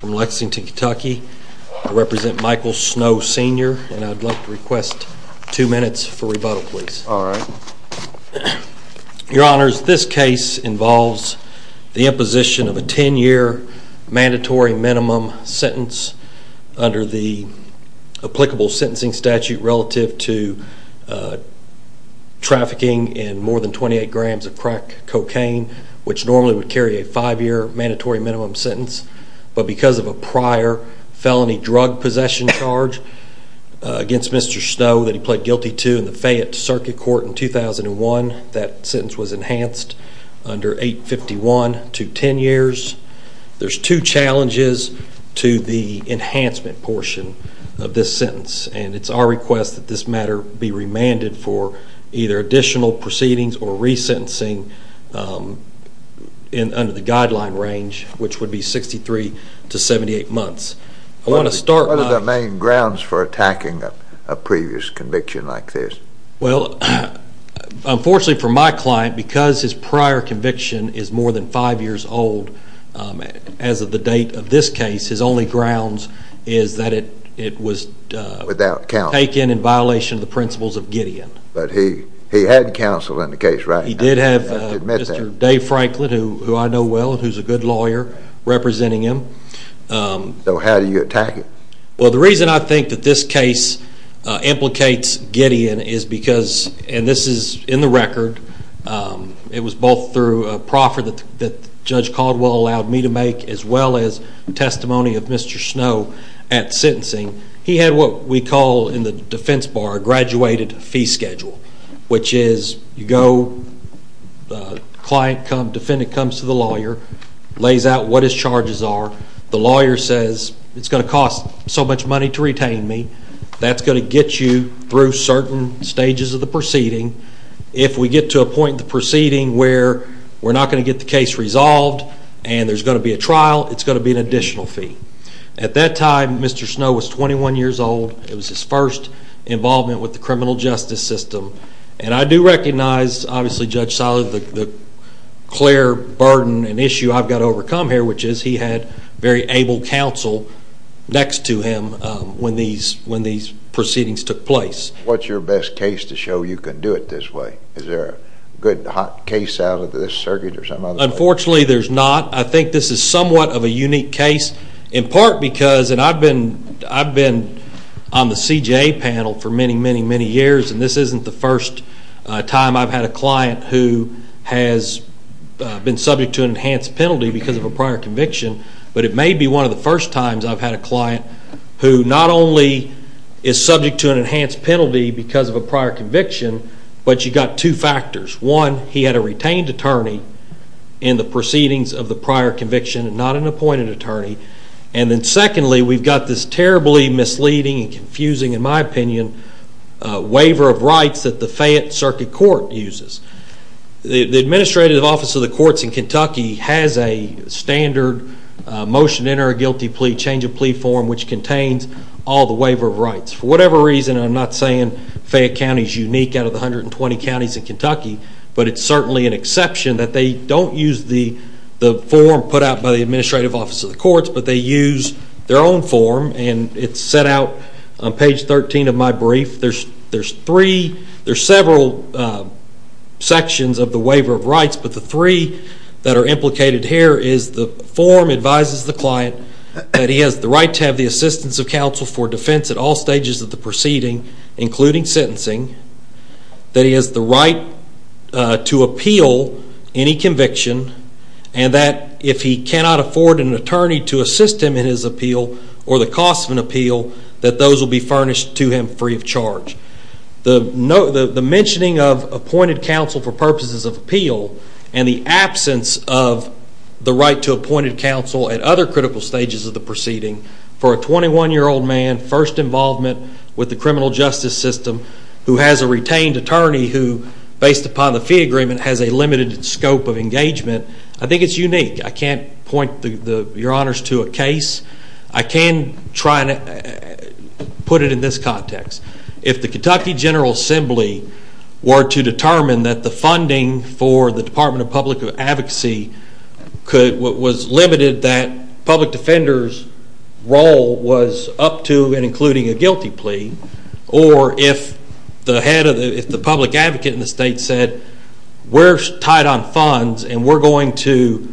From Lexington, Kentucky, I represent Michael Snow Sr. and I'd like to request two minutes for rebuttal, please. All right. Your Honors, this case involves the imposition of a 10-year mandatory minimum sentence under the applicable sentencing statute relative to trafficking in more than 28 grams of crack cocaine, which normally would carry a five-year mandatory minimum sentence, but because of a prior felony drug possession charge against Mr. Snow that he pled guilty to in the Fayette Circuit Court in 2001, that sentence was enhanced under 851 to 10 years. There's two challenges to the enhancement portion of this sentence, and it's our request that this matter be remanded for either additional proceedings or resentencing under the guideline range, which would be 63 to 78 months. What are the main grounds for attacking a previous conviction like this? Well, unfortunately for my client, because his prior conviction is more than five years old as of the date of this case, his only grounds is that it was taken in violation of the principles of Gideon. But he had counsel in the case, right? He did have Mr. Dave Franklin, who I know well and who's a good lawyer, representing him. So how do you attack it? Well, the reason I think that this case implicates Gideon is because, and this is in the record, it was both through a proffer that Judge Caldwell allowed me to make as well as testimony of Mr. Snow at sentencing. He had what we call in the defense bar a graduated fee schedule, which is you go, client comes, defendant comes to the lawyer, lays out what his charges are. The lawyer says, it's going to cost so much money to retain me. That's going to get you through certain stages of the proceeding. If we get to a point in the proceeding where we're not going to get the case resolved and there's going to be a trial, it's going to be an additional fee. At that time, Mr. Snow was 21 years old. It was his first involvement with the criminal justice system. And I do recognize, obviously, Judge Silas, the clear burden and issue I've got to overcome here, which is he had very able counsel next to him when these proceedings took place. What's your best case to show you can do it this way? Is there a good, hot case out of this circuit or some other? Unfortunately, there's not. I think this is somewhat of a unique case in part because, and I've been on the CJA panel for many, many, many years, and this isn't the first time I've had a client who has been subject to an enhanced penalty because of a prior conviction, but it may be one of the first times I've had a client who not only is subject to an enhanced penalty because of a prior conviction, but you've got two factors. One, he had a retained attorney in the proceedings of the prior conviction and not an appointed attorney. And then secondly, we've got this terribly misleading and confusing, in my opinion, waiver of rights that the Fayette Circuit Court uses. The Administrative Office of the Courts in Kentucky has a standard motion to enter a guilty plea, change of plea form, which contains all the waiver of rights. For whatever reason, I'm not saying Fayette County is unique out of the 120 counties in Kentucky, but it's certainly an exception that they don't use the form put out by the Administrative Office of the Courts, but they use their own form, and it's set out on page 13 of my brief. There's several sections of the waiver of rights, but the three that are implicated here is the form advises the client that he has the right to have the assistance of counsel for defense at all stages of the proceeding, including sentencing, that he has the right to appeal any conviction, and that if he cannot afford an attorney to assist him in his appeal or the cost of an appeal, that those will be furnished to him free of charge. The mentioning of appointed counsel for purposes of appeal and the absence of the right to appointed counsel at other critical stages of the proceeding for a 21-year-old man, first involvement with the criminal justice system, who has a retained attorney who, based upon the fee agreement, has a limited scope of engagement, I think it's unique. I can't point your honors to a case. I can try and put it in this context. If the Kentucky General Assembly were to determine that the funding for the Department of Public Advocacy was limited that public defender's role was up to and including a guilty plea, or if the public advocate in the state said, we're tied on funds and we're going to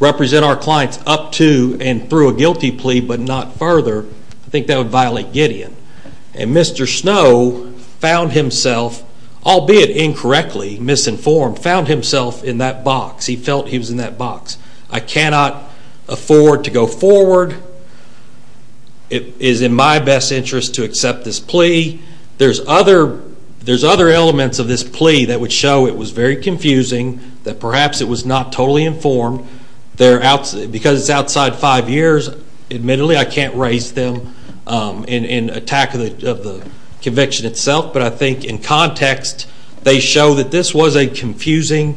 represent our clients up to and through a guilty plea but not further, I think that would violate Gideon. And Mr. Snow found himself, albeit incorrectly, misinformed, found himself in that box. He felt he was in that box. I cannot afford to go forward. It is in my best interest to accept this plea. There's other elements of this plea that would show it was very confusing, that perhaps it was not totally informed. Because it's outside five years, admittedly I can't raise them in attack of the conviction itself, but I think in context they show that this was a confusing,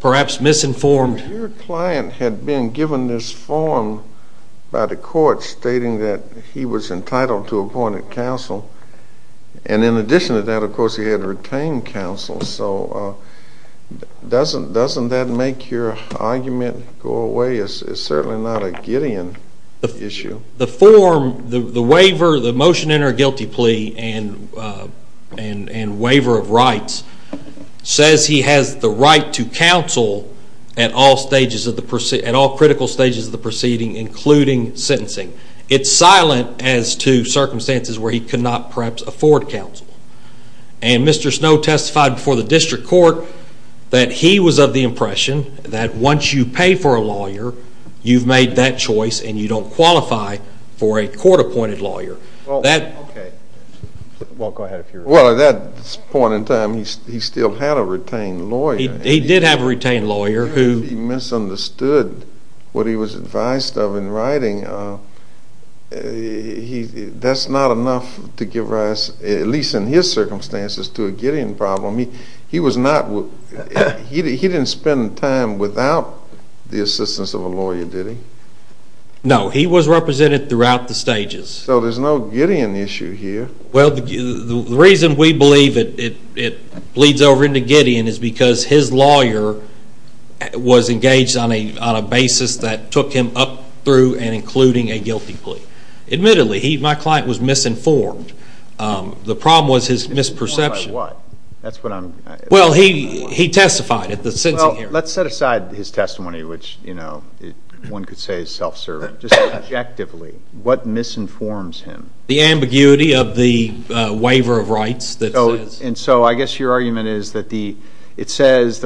perhaps misinformed Your client had been given this form by the court stating that he was entitled to appointed counsel. And in addition to that, of course, he had retained counsel. So doesn't that make your argument go away? It's certainly not a Gideon issue. The motion to enter a guilty plea and waiver of rights says he has the right to counsel at all critical stages of the proceeding, including sentencing. It's silent as to circumstances where he could not perhaps afford counsel. And Mr. Snow testified before the district court that he was of the impression that once you pay for a lawyer, you've made that choice and you don't qualify for a court-appointed lawyer. Well, at that point in time he still had a retained lawyer. He did have a retained lawyer. He misunderstood what he was advised of in writing. That's not enough to give rise, at least in his circumstances, to a Gideon problem. He didn't spend time without the assistance of a lawyer, did he? No, he was represented throughout the stages. So there's no Gideon issue here. Well, the reason we believe it bleeds over into Gideon is because his lawyer was engaged on a basis that took him up through and including a guilty plea. Admittedly, my client was misinformed. The problem was his misperception. Well, he testified at the sentencing hearing. Well, let's set aside his testimony, which one could say is self-serving. Just objectively, what misinforms him? The ambiguity of the waiver of rights that says. And so I guess your argument is that the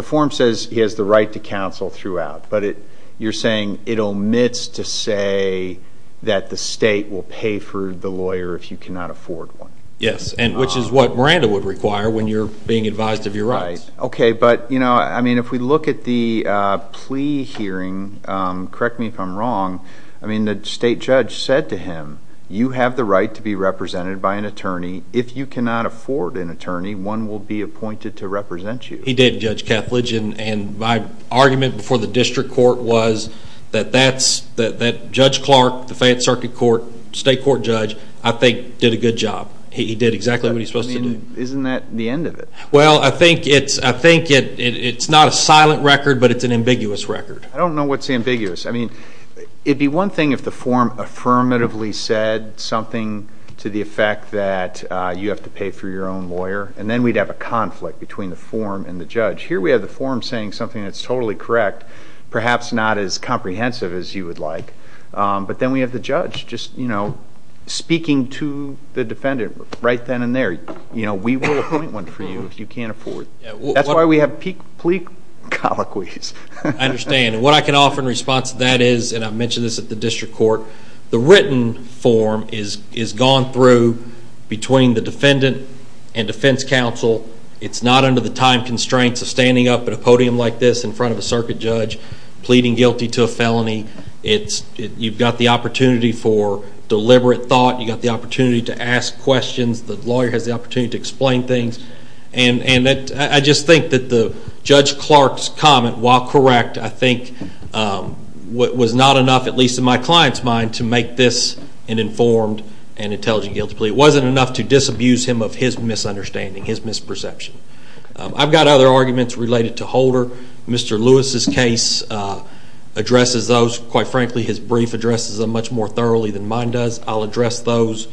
form says he has the right to counsel throughout, but you're saying it omits to say that the state will pay for the lawyer if you cannot afford one. Yes, which is what Miranda would require when you're being advised of your rights. Okay, but, you know, I mean, if we look at the plea hearing, correct me if I'm wrong, I mean, the state judge said to him, you have the right to be represented by an attorney. If you cannot afford an attorney, one will be appointed to represent you. He did, Judge Kethledge, and my argument before the district court was that Judge Clark, the Fayette Circuit court, state court judge, I think did a good job. He did exactly what he's supposed to do. Isn't that the end of it? Well, I think it's not a silent record, but it's an ambiguous record. I don't know what's ambiguous. I mean, it would be one thing if the form affirmatively said something to the effect that you have to pay for your own lawyer, and then we'd have a conflict between the form and the judge. Here we have the form saying something that's totally correct, perhaps not as comprehensive as you would like, but then we have the judge just speaking to the defendant right then and there. We will appoint one for you if you can't afford it. That's why we have plea colloquies. I understand, and what I can offer in response to that is, and I mentioned this at the district court, the written form is gone through between the defendant and defense counsel. It's not under the time constraints of standing up at a podium like this in front of a circuit judge pleading guilty to a felony. You've got the opportunity for deliberate thought. You've got the opportunity to ask questions. The lawyer has the opportunity to explain things, and I just think that Judge Clark's comment, while correct, I think was not enough, at least in my client's mind, to make this an informed and intelligent guilty plea. It wasn't enough to disabuse him of his misunderstanding, his misperception. I've got other arguments related to Holder. Mr. Lewis's case addresses those. Quite frankly, his brief addresses them much more thoroughly than mine does. I'll address those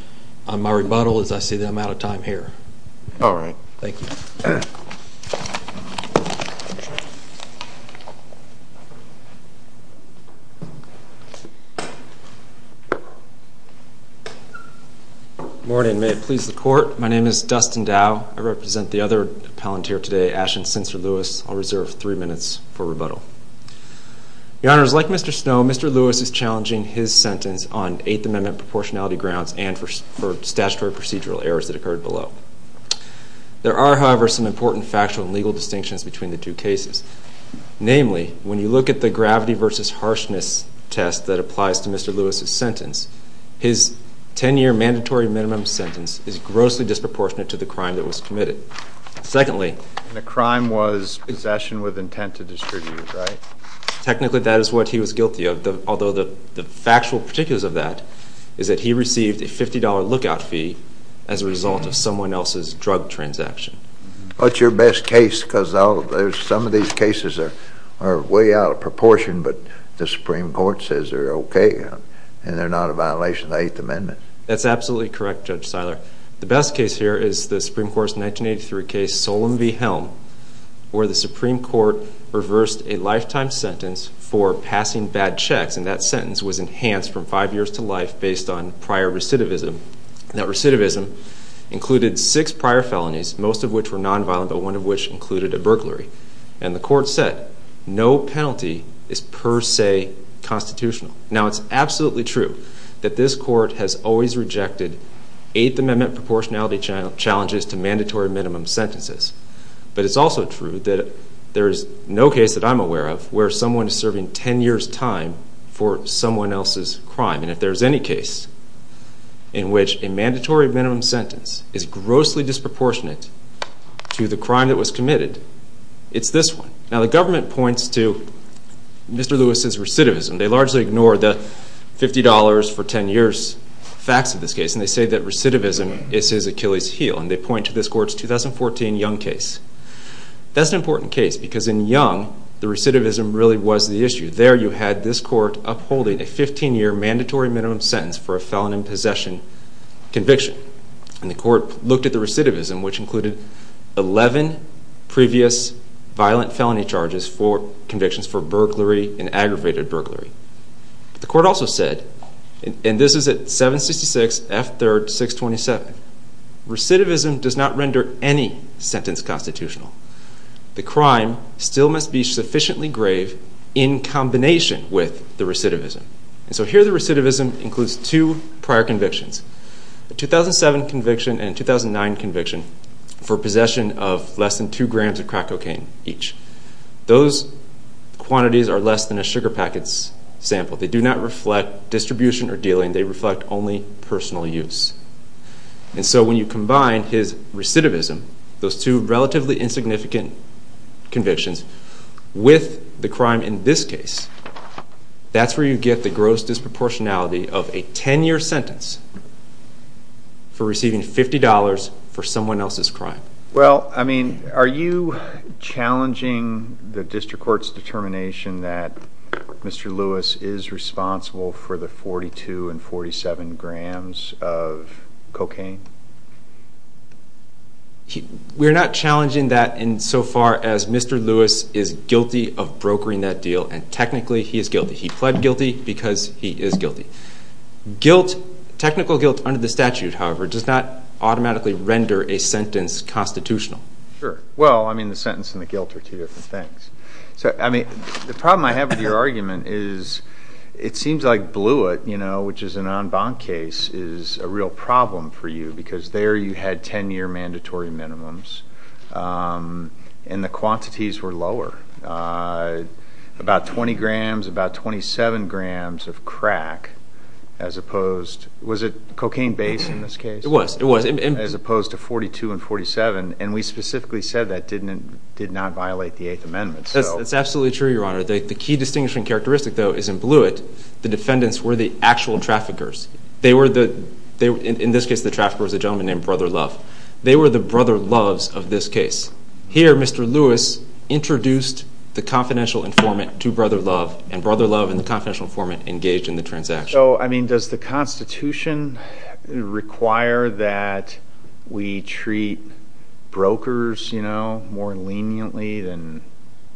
on my rebuttal as I see that I'm out of time here. All right. Thank you. Good morning. May it please the court, my name is Dustin Dow. I represent the other appellant here today, Ashton Sincer-Lewis. I'll reserve three minutes for rebuttal. Your Honors, like Mr. Snow, Mr. Lewis is challenging his sentence on Eighth Amendment proportionality grounds and for statutory procedural errors that occurred below. There are, however, some important factual and legal distinctions between the two cases. Namely, when you look at the gravity versus harshness test that applies to Mr. Lewis's sentence, his 10-year mandatory minimum sentence is grossly disproportionate to the crime that was committed. Secondly... The crime was possession with intent to distribute, right? Technically, that is what he was guilty of, although the factual particulars of that is that he received a $50 lookout fee as a result of someone else's drug transaction. What's your best case, because some of these cases are way out of proportion, but the Supreme Court says they're okay and they're not a violation of the Eighth Amendment. That's absolutely correct, Judge Seiler. The best case here is the Supreme Court's 1983 case, Solem v. Helm, where the Supreme Court reversed a lifetime sentence for passing bad checks, and that sentence was enhanced from five years to life based on prior recidivism. That recidivism included six prior felonies, most of which were nonviolent, but one of which included a burglary. And the Court said no penalty is per se constitutional. Now, it's absolutely true that this Court has always rejected Eighth Amendment proportionality challenges to mandatory minimum sentences, but it's also true that there's no case that I'm aware of where someone is serving 10 years' time for someone else's crime. And if there's any case in which a mandatory minimum sentence is grossly disproportionate to the crime that was committed, it's this one. Now, the government points to Mr. Lewis's recidivism. They largely ignore the $50 for 10 years facts of this case, and they say that recidivism is his Achilles' heel, and they point to this Court's 2014 Young case. That's an important case because in Young, the recidivism really was the issue. There, you had this Court upholding a 15-year mandatory minimum sentence for a felon in possession conviction. And the Court looked at the recidivism, which included 11 previous violent felony charges as well as four convictions for burglary and aggravated burglary. The Court also said, and this is at 766 F. 3rd. 627, recidivism does not render any sentence constitutional. The crime still must be sufficiently grave in combination with the recidivism. And so here the recidivism includes two prior convictions, a 2007 conviction and a 2009 conviction for possession of less than 2 grams of crack cocaine each. Those quantities are less than a sugar packet's sample. They do not reflect distribution or dealing. They reflect only personal use. And so when you combine his recidivism, those two relatively insignificant convictions, with the crime in this case, that's where you get the gross disproportionality of a 10-year sentence for receiving $50 for someone else's crime. Well, I mean, are you challenging the District Court's determination that Mr. Lewis is responsible for the 42 and 47 grams of cocaine? We're not challenging that insofar as Mr. Lewis is guilty of brokering that deal, and technically he is guilty. He pled guilty because he is guilty. Guilt, technical guilt under the statute, however, does not automatically render a sentence constitutional. Sure. Well, I mean, the sentence and the guilt are two different things. I mean, the problem I have with your argument is it seems like Blewitt, you know, which is a non-bond case, is a real problem for you because there you had 10-year mandatory minimums, and the quantities were lower. About 20 grams, about 27 grams of crack as opposed, was it cocaine base in this case? It was, it was. As opposed to 42 and 47, and we specifically said that did not violate the Eighth Amendment. That's absolutely true, Your Honor. The key distinguishing characteristic, though, is in Blewitt, the defendants were the actual traffickers. In this case, the trafficker was a gentleman named Brother Love. They were the Brother Loves of this case. Here, Mr. Lewis introduced the confidential informant to Brother Love, and Brother Love and the confidential informant engaged in the transaction. So, I mean, does the Constitution require that we treat brokers, you know, more leniently than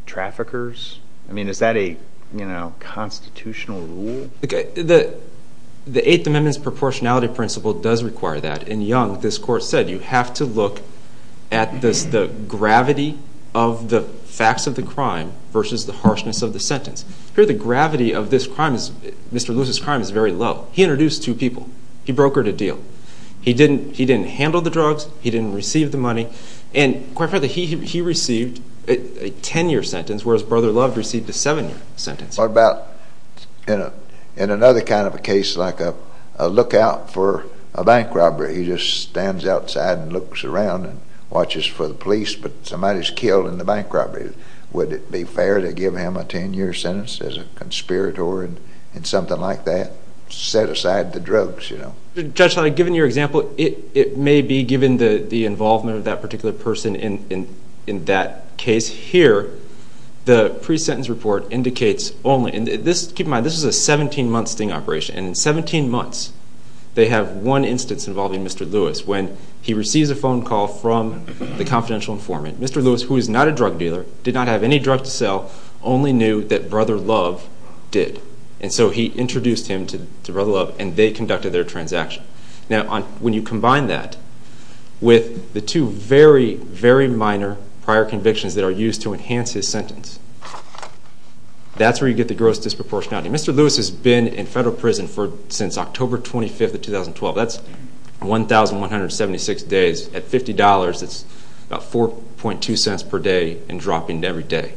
traffickers? I mean, is that a, you know, constitutional rule? The Eighth Amendment's proportionality principle does require that. In Young, this court said you have to look at the gravity of the facts of the crime versus the harshness of the sentence. Here, the gravity of this crime is, Mr. Lewis' crime is very low. He introduced two people. He brokered a deal. He didn't handle the drugs. He didn't receive the money, and quite frankly, he received a 10-year sentence, whereas Brother Love received a 7-year sentence. What about in another kind of a case like a lookout for a bank robbery? He just stands outside and looks around and watches for the police, but somebody's killed in the bank robbery. Would it be fair to give him a 10-year sentence as a conspirator and something like that? Set aside the drugs, you know. Judge Levy, given your example, it may be given the involvement of that particular person in that case. Here, the pre-sentence report indicates only, and keep in mind this is a 17-month sting operation, and in 17 months they have one instance involving Mr. Lewis when he receives a phone call from the confidential informant. Mr. Lewis, who is not a drug dealer, did not have any drug to sell, only knew that Brother Love did, and so he introduced him to Brother Love, and they conducted their transaction. Now, when you combine that with the two very, very minor prior convictions that are used to enhance his sentence, that's where you get the gross disproportionality. Mr. Lewis has been in federal prison since October 25, 2012. That's 1,176 days. At $50, that's about 4.2 cents per day and dropping every day.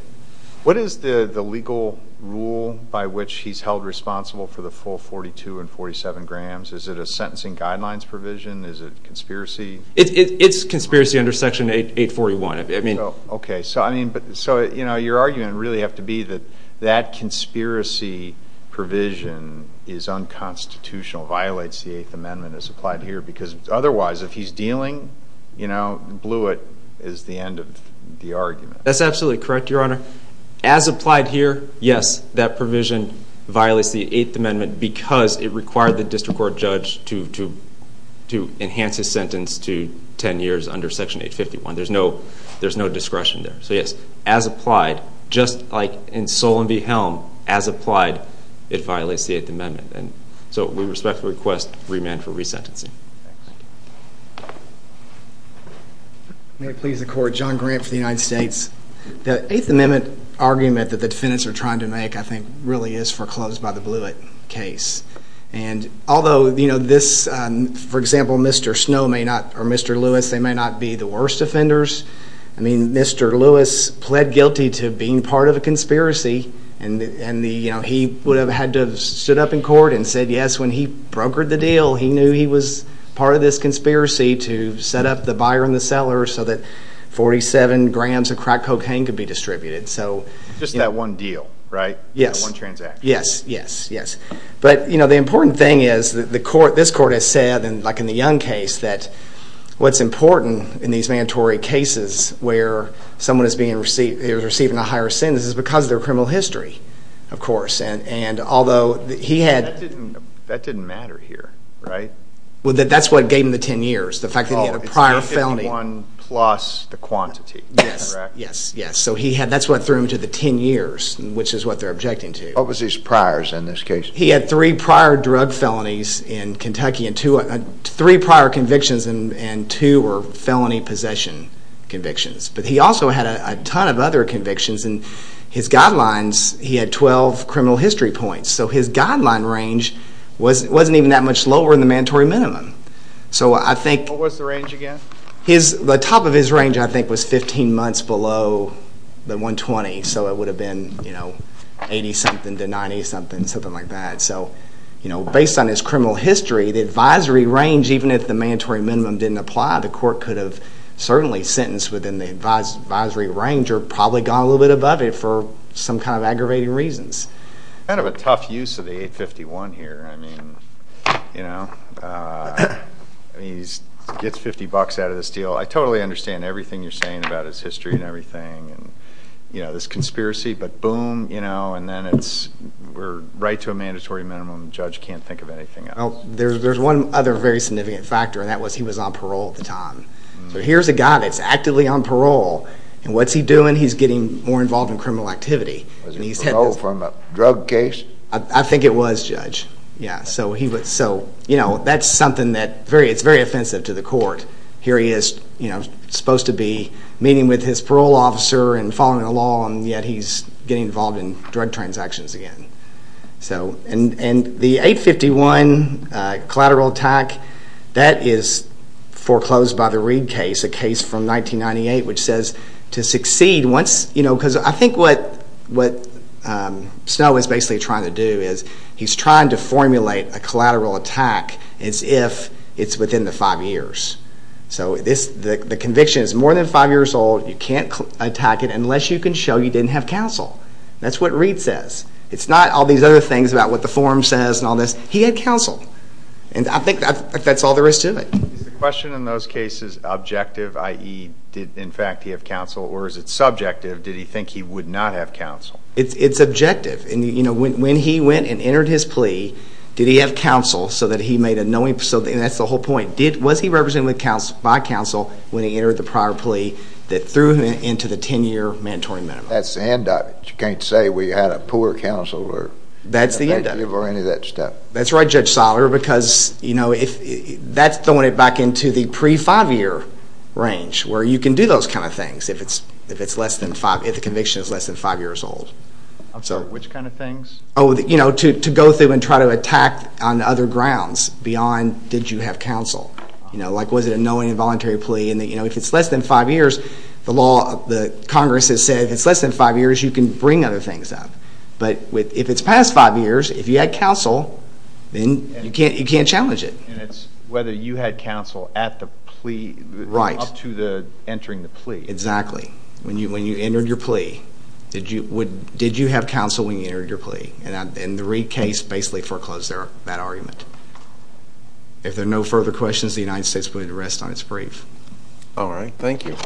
What is the legal rule by which he's held responsible for the full 42 and 47 grams? Is it a sentencing guidelines provision? Is it conspiracy? It's conspiracy under Section 841. Okay, so your argument would really have to be that that conspiracy provision is unconstitutional, violates the Eighth Amendment as applied here, because otherwise if he's dealing, blew it is the end of the argument. That's absolutely correct, Your Honor. As applied here, yes, that provision violates the Eighth Amendment because it required the district court judge to enhance his sentence to 10 years under Section 851. There's no discretion there. So, yes, as applied, just like in Solon v. Helm, as applied, it violates the Eighth Amendment. So we respectfully request remand for resentencing. May it please the Court, John Grant for the United States. The Eighth Amendment argument that the defendants are trying to make, I think, really is foreclosed by the Blewitt case. And although, you know, this, for example, Mr. Snow may not, or Mr. Lewis, they may not be the worst offenders. I mean, Mr. Lewis pled guilty to being part of a conspiracy, and he would have had to have stood up in court and said yes when he brokered the deal. He knew he was part of this conspiracy to set up the buyer and the seller so that 47 grams of crack cocaine could be distributed. Just that one deal, right? Yes. One transaction. Yes, yes, yes. But, you know, the important thing is that this Court has said, like in the Young case, that what's important in these mandatory cases where someone is receiving a higher sentence is because of their criminal history, of course. That didn't matter here, right? Well, that's what gave him the 10 years, the fact that he had a prior felony. Well, it's not getting one plus the quantity, correct? Yes, yes, yes. So that's what threw him to the 10 years, which is what they're objecting to. What was his priors in this case? He had three prior drug felonies in Kentucky, three prior convictions, and two were felony possession convictions. But he also had a ton of other convictions. And his guidelines, he had 12 criminal history points. So his guideline range wasn't even that much lower than the mandatory minimum. What was the range again? The top of his range, I think, was 15 months below the 120. So it would have been 80-something to 90-something, something like that. So, you know, based on his criminal history, the advisory range, even if the mandatory minimum didn't apply, the court could have certainly sentenced within the advisory range or probably gone a little bit above it for some kind of aggravating reasons. Kind of a tough use of the 851 here. I mean, you know, he gets 50 bucks out of this deal. I totally understand everything you're saying about his history and everything and, you know, this conspiracy. But boom, you know, and then it's right to a mandatory minimum. The judge can't think of anything else. Well, there's one other very significant factor, and that was he was on parole at the time. So here's a guy that's actively on parole, and what's he doing? He's getting more involved in criminal activity. Was he paroled from a drug case? I think it was, Judge. Yeah, so, you know, that's something that's very offensive to the court. Here he is, you know, supposed to be meeting with his parole officer and following the law, and yet he's getting involved in drug transactions again. So, and the 851 collateral attack, that is foreclosed by the Reed case, a case from 1998, which says to succeed once, you know, because I think what Snow is basically trying to do is he's trying to formulate a collateral attack as if it's within the five years. So the conviction is more than five years old. You can't attack it unless you can show you didn't have counsel. That's what Reed says. It's not all these other things about what the form says and all this. He had counsel, and I think that's all there is to it. Is the question in those cases objective, i.e., did, in fact, he have counsel, or is it subjective, did he think he would not have counsel? It's objective. You know, when he went and entered his plea, did he have counsel so that he made a knowing, and that's the whole point, was he represented by counsel when he entered the prior plea that threw him into the 10-year mandatory minimum? That's the end of it. You can't say we had a poor counsel or give or any of that stuff. That's the end of it. That's right, Judge Soller, because, you know, that's throwing it back into the pre-five-year range where you can do those kind of things if the conviction is less than five years old. I'm sorry, which kind of things? Oh, you know, to go through and try to attack on other grounds beyond did you have counsel. You know, like was it a knowing and voluntary plea? And, you know, if it's less than five years, the Congress has said if it's less than five years, you can bring other things up. But if it's past five years, if you had counsel, then you can't challenge it. And it's whether you had counsel at the plea up to entering the plea. Exactly. When you entered your plea, did you have counsel when you entered your plea? And the Reed case basically foreclosed that argument. If there are no further questions, the United States pleaded to rest on its brief. All right. Thank you.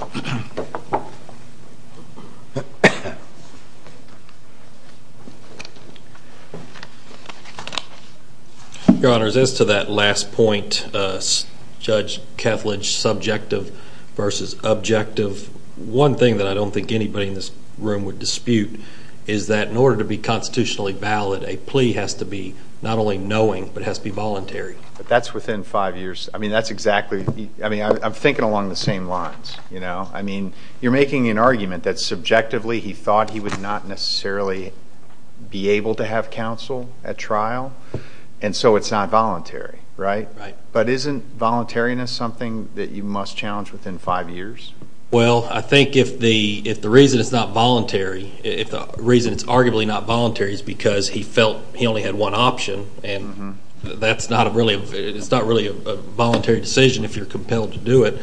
Your Honors, as to that last point, Judge Kethledge, subjective versus objective, one thing that I don't think anybody in this room would dispute is that in order to be constitutionally valid, a plea has to be not only knowing but has to be voluntary. But that's within five years. I mean, that's exactly. I mean, I'm thinking along the same lines, you know. I mean, you're making an argument that subjectively he thought he would not necessarily be able to have counsel at trial, and so it's not voluntary, right? Right. But isn't voluntariness something that you must challenge within five years? Well, I think if the reason it's not voluntary, if the reason it's arguably not voluntary is because he felt he only had one option, and it's not really a voluntary decision if you're compelled to do it,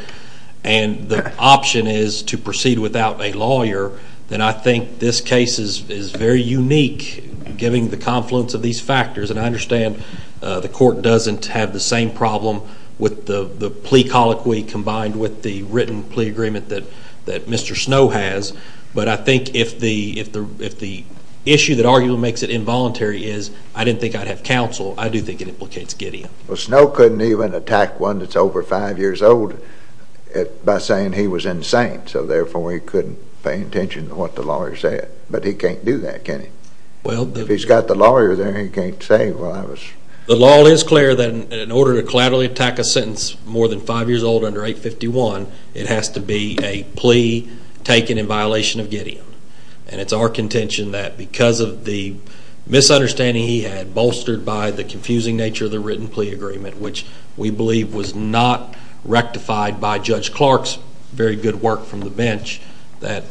and the option is to proceed without a lawyer, then I think this case is very unique, given the confluence of these factors. And I understand the court doesn't have the same problem with the plea colloquy combined with the written plea agreement that Mr. Snow has. But I think if the issue that arguably makes it involuntary is I didn't think I'd have counsel, I do think it implicates giddy-up. Well, Snow couldn't even attack one that's over five years old by saying he was insane, so therefore he couldn't pay attention to what the lawyer said. But he can't do that, can he? If he's got the lawyer there, he can't say, well, I was. The law is clear that in order to collaterally attack a sentence more than five years old under 851, it has to be a plea taken in violation of Gideon. And it's our contention that because of the misunderstanding he had, bolstered by the confusing nature of the written plea agreement, which we believe was not rectified by Judge Clark's very good work from the bench, that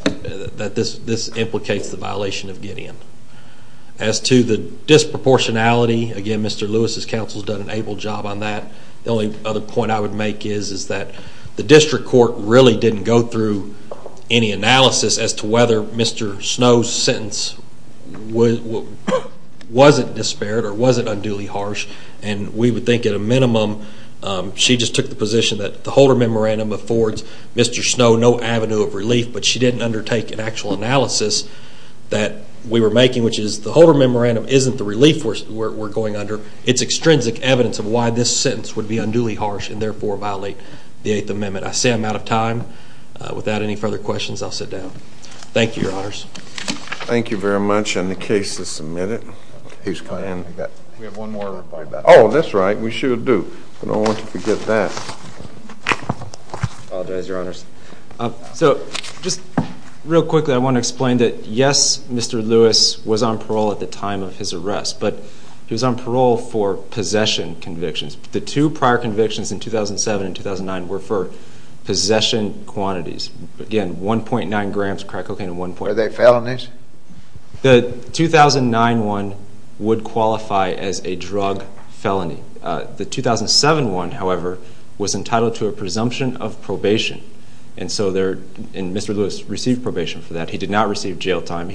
this implicates the violation of Gideon. As to the disproportionality, again, Mr. Lewis's counsel has done an able job on that. The only other point I would make is that the district court really didn't go through any analysis as to whether Mr. Snow's sentence wasn't disparate or wasn't unduly harsh. And we would think at a minimum she just took the position that the Holder Memorandum affords Mr. Snow no avenue of relief, but she didn't undertake an actual analysis that we were making, which is the Holder Memorandum isn't the relief we're going under. It's extrinsic evidence of why this sentence would be unduly harsh and therefore violate the Eighth Amendment. I say I'm out of time. Without any further questions, I'll sit down. Thank you, Your Honors. Thank you very much. And the case is submitted. We have one more. Oh, that's right. We sure do. I don't want you to forget that. I apologize, Your Honors. So just real quickly, I want to explain that, yes, Mr. Lewis was on parole at the time of his arrest, but he was on parole for possession convictions. The two prior convictions in 2007 and 2009 were for possession quantities. Again, 1.9 grams of crack cocaine and 1.8. Were they felonies? The 2009 one would qualify as a drug felony. The 2007 one, however, was entitled to a presumption of probation, and Mr. Lewis received probation for that. He did not receive jail time.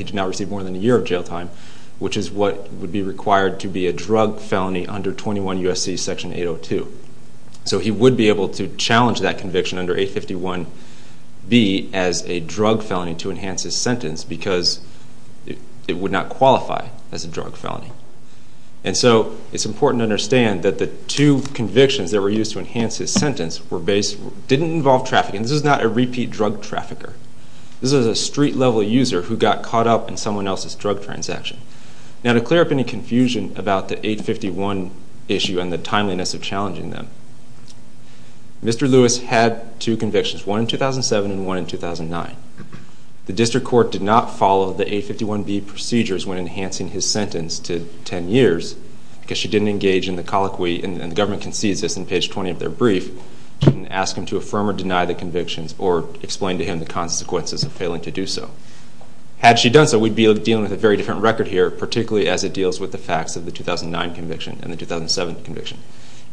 Which is what would be required to be a drug felony under 21 U.S.C. Section 802. So he would be able to challenge that conviction under 851B as a drug felony to enhance his sentence because it would not qualify as a drug felony. And so it's important to understand that the two convictions that were used to enhance his sentence didn't involve trafficking. This is not a repeat drug trafficker. This is a street-level user who got caught up in someone else's drug transaction. Now, to clear up any confusion about the 851 issue and the timeliness of challenging them, Mr. Lewis had two convictions, one in 2007 and one in 2009. The district court did not follow the 851B procedures when enhancing his sentence to 10 years because she didn't engage in the colloquy, and the government concedes this in page 20 of their brief, and ask him to affirm or deny the convictions or explain to him the consequences of failing to do so. Had she done so, we'd be dealing with a very different record here, particularly as it deals with the facts of the 2009 conviction and the 2007 conviction.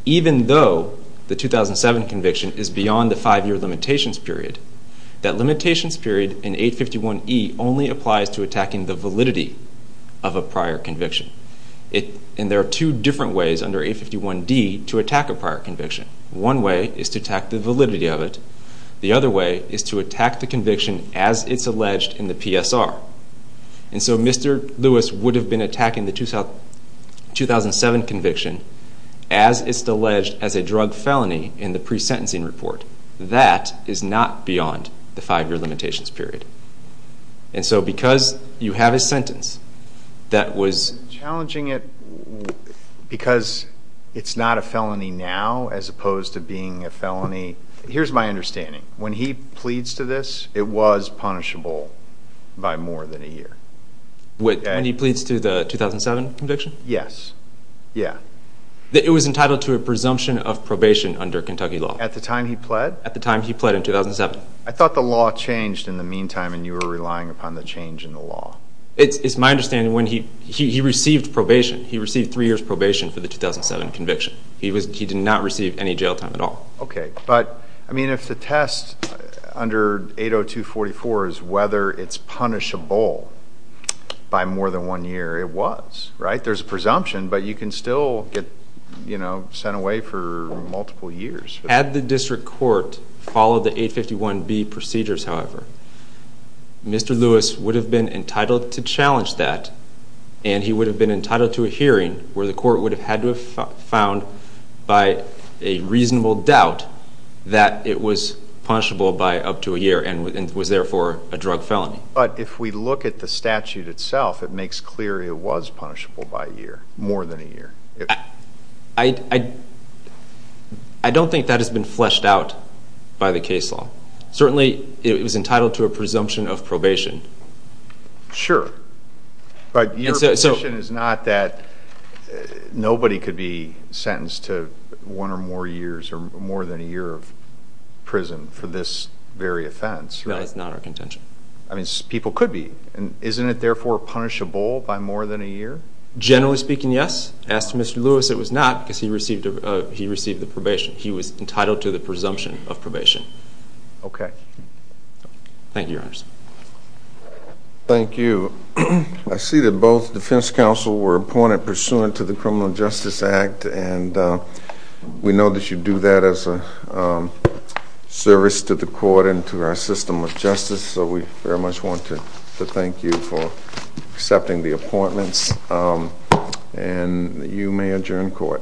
Even though the 2007 conviction is beyond the five-year limitations period, that limitations period in 851E only applies to attacking the validity of a prior conviction. And there are two different ways under 851D to attack a prior conviction. One way is to attack the validity of it. The other way is to attack the conviction as it's alleged in the PSR. And so Mr. Lewis would have been attacking the 2007 conviction as it's alleged as a drug felony in the pre-sentencing report. That is not beyond the five-year limitations period. And so because you have a sentence that was challenging it because it's not a felony now as opposed to being a felony. Here's my understanding. When he pleads to this, it was punishable by more than a year. When he pleads to the 2007 conviction? Yes. Yeah. It was entitled to a presumption of probation under Kentucky law. At the time he pled? At the time he pled in 2007. I thought the law changed in the meantime and you were relying upon the change in the law. It's my understanding when he received probation, he received three years probation for the 2007 conviction. He did not receive any jail time at all. Okay. But, I mean, if the test under 80244 is whether it's punishable by more than one year, it was, right? There's a presumption, but you can still get sent away for multiple years. Had the district court followed the 851B procedures, however, Mr. Lewis would have been entitled to challenge that, and he would have been entitled to a hearing where the court would have had to have found, by a reasonable doubt, that it was punishable by up to a year and was, therefore, a drug felony. But if we look at the statute itself, it makes clear it was punishable by a year, more than a year. I don't think that has been fleshed out by the case law. Certainly, it was entitled to a presumption of probation. Sure. But your position is not that nobody could be sentenced to one or more years or more than a year of prison for this very offense, right? No, that's not our contention. I mean, people could be. Isn't it, therefore, punishable by more than a year? Generally speaking, yes. As to Mr. Lewis, it was not because he received the probation. He was entitled to the presumption of probation. Okay. Thank you, Your Honors. Thank you. I see that both defense counsel were appointed pursuant to the Criminal Justice Act, and we know that you do that as a service to the court and to our system of justice, so we very much want to thank you for accepting the appointments. And you may adjourn court.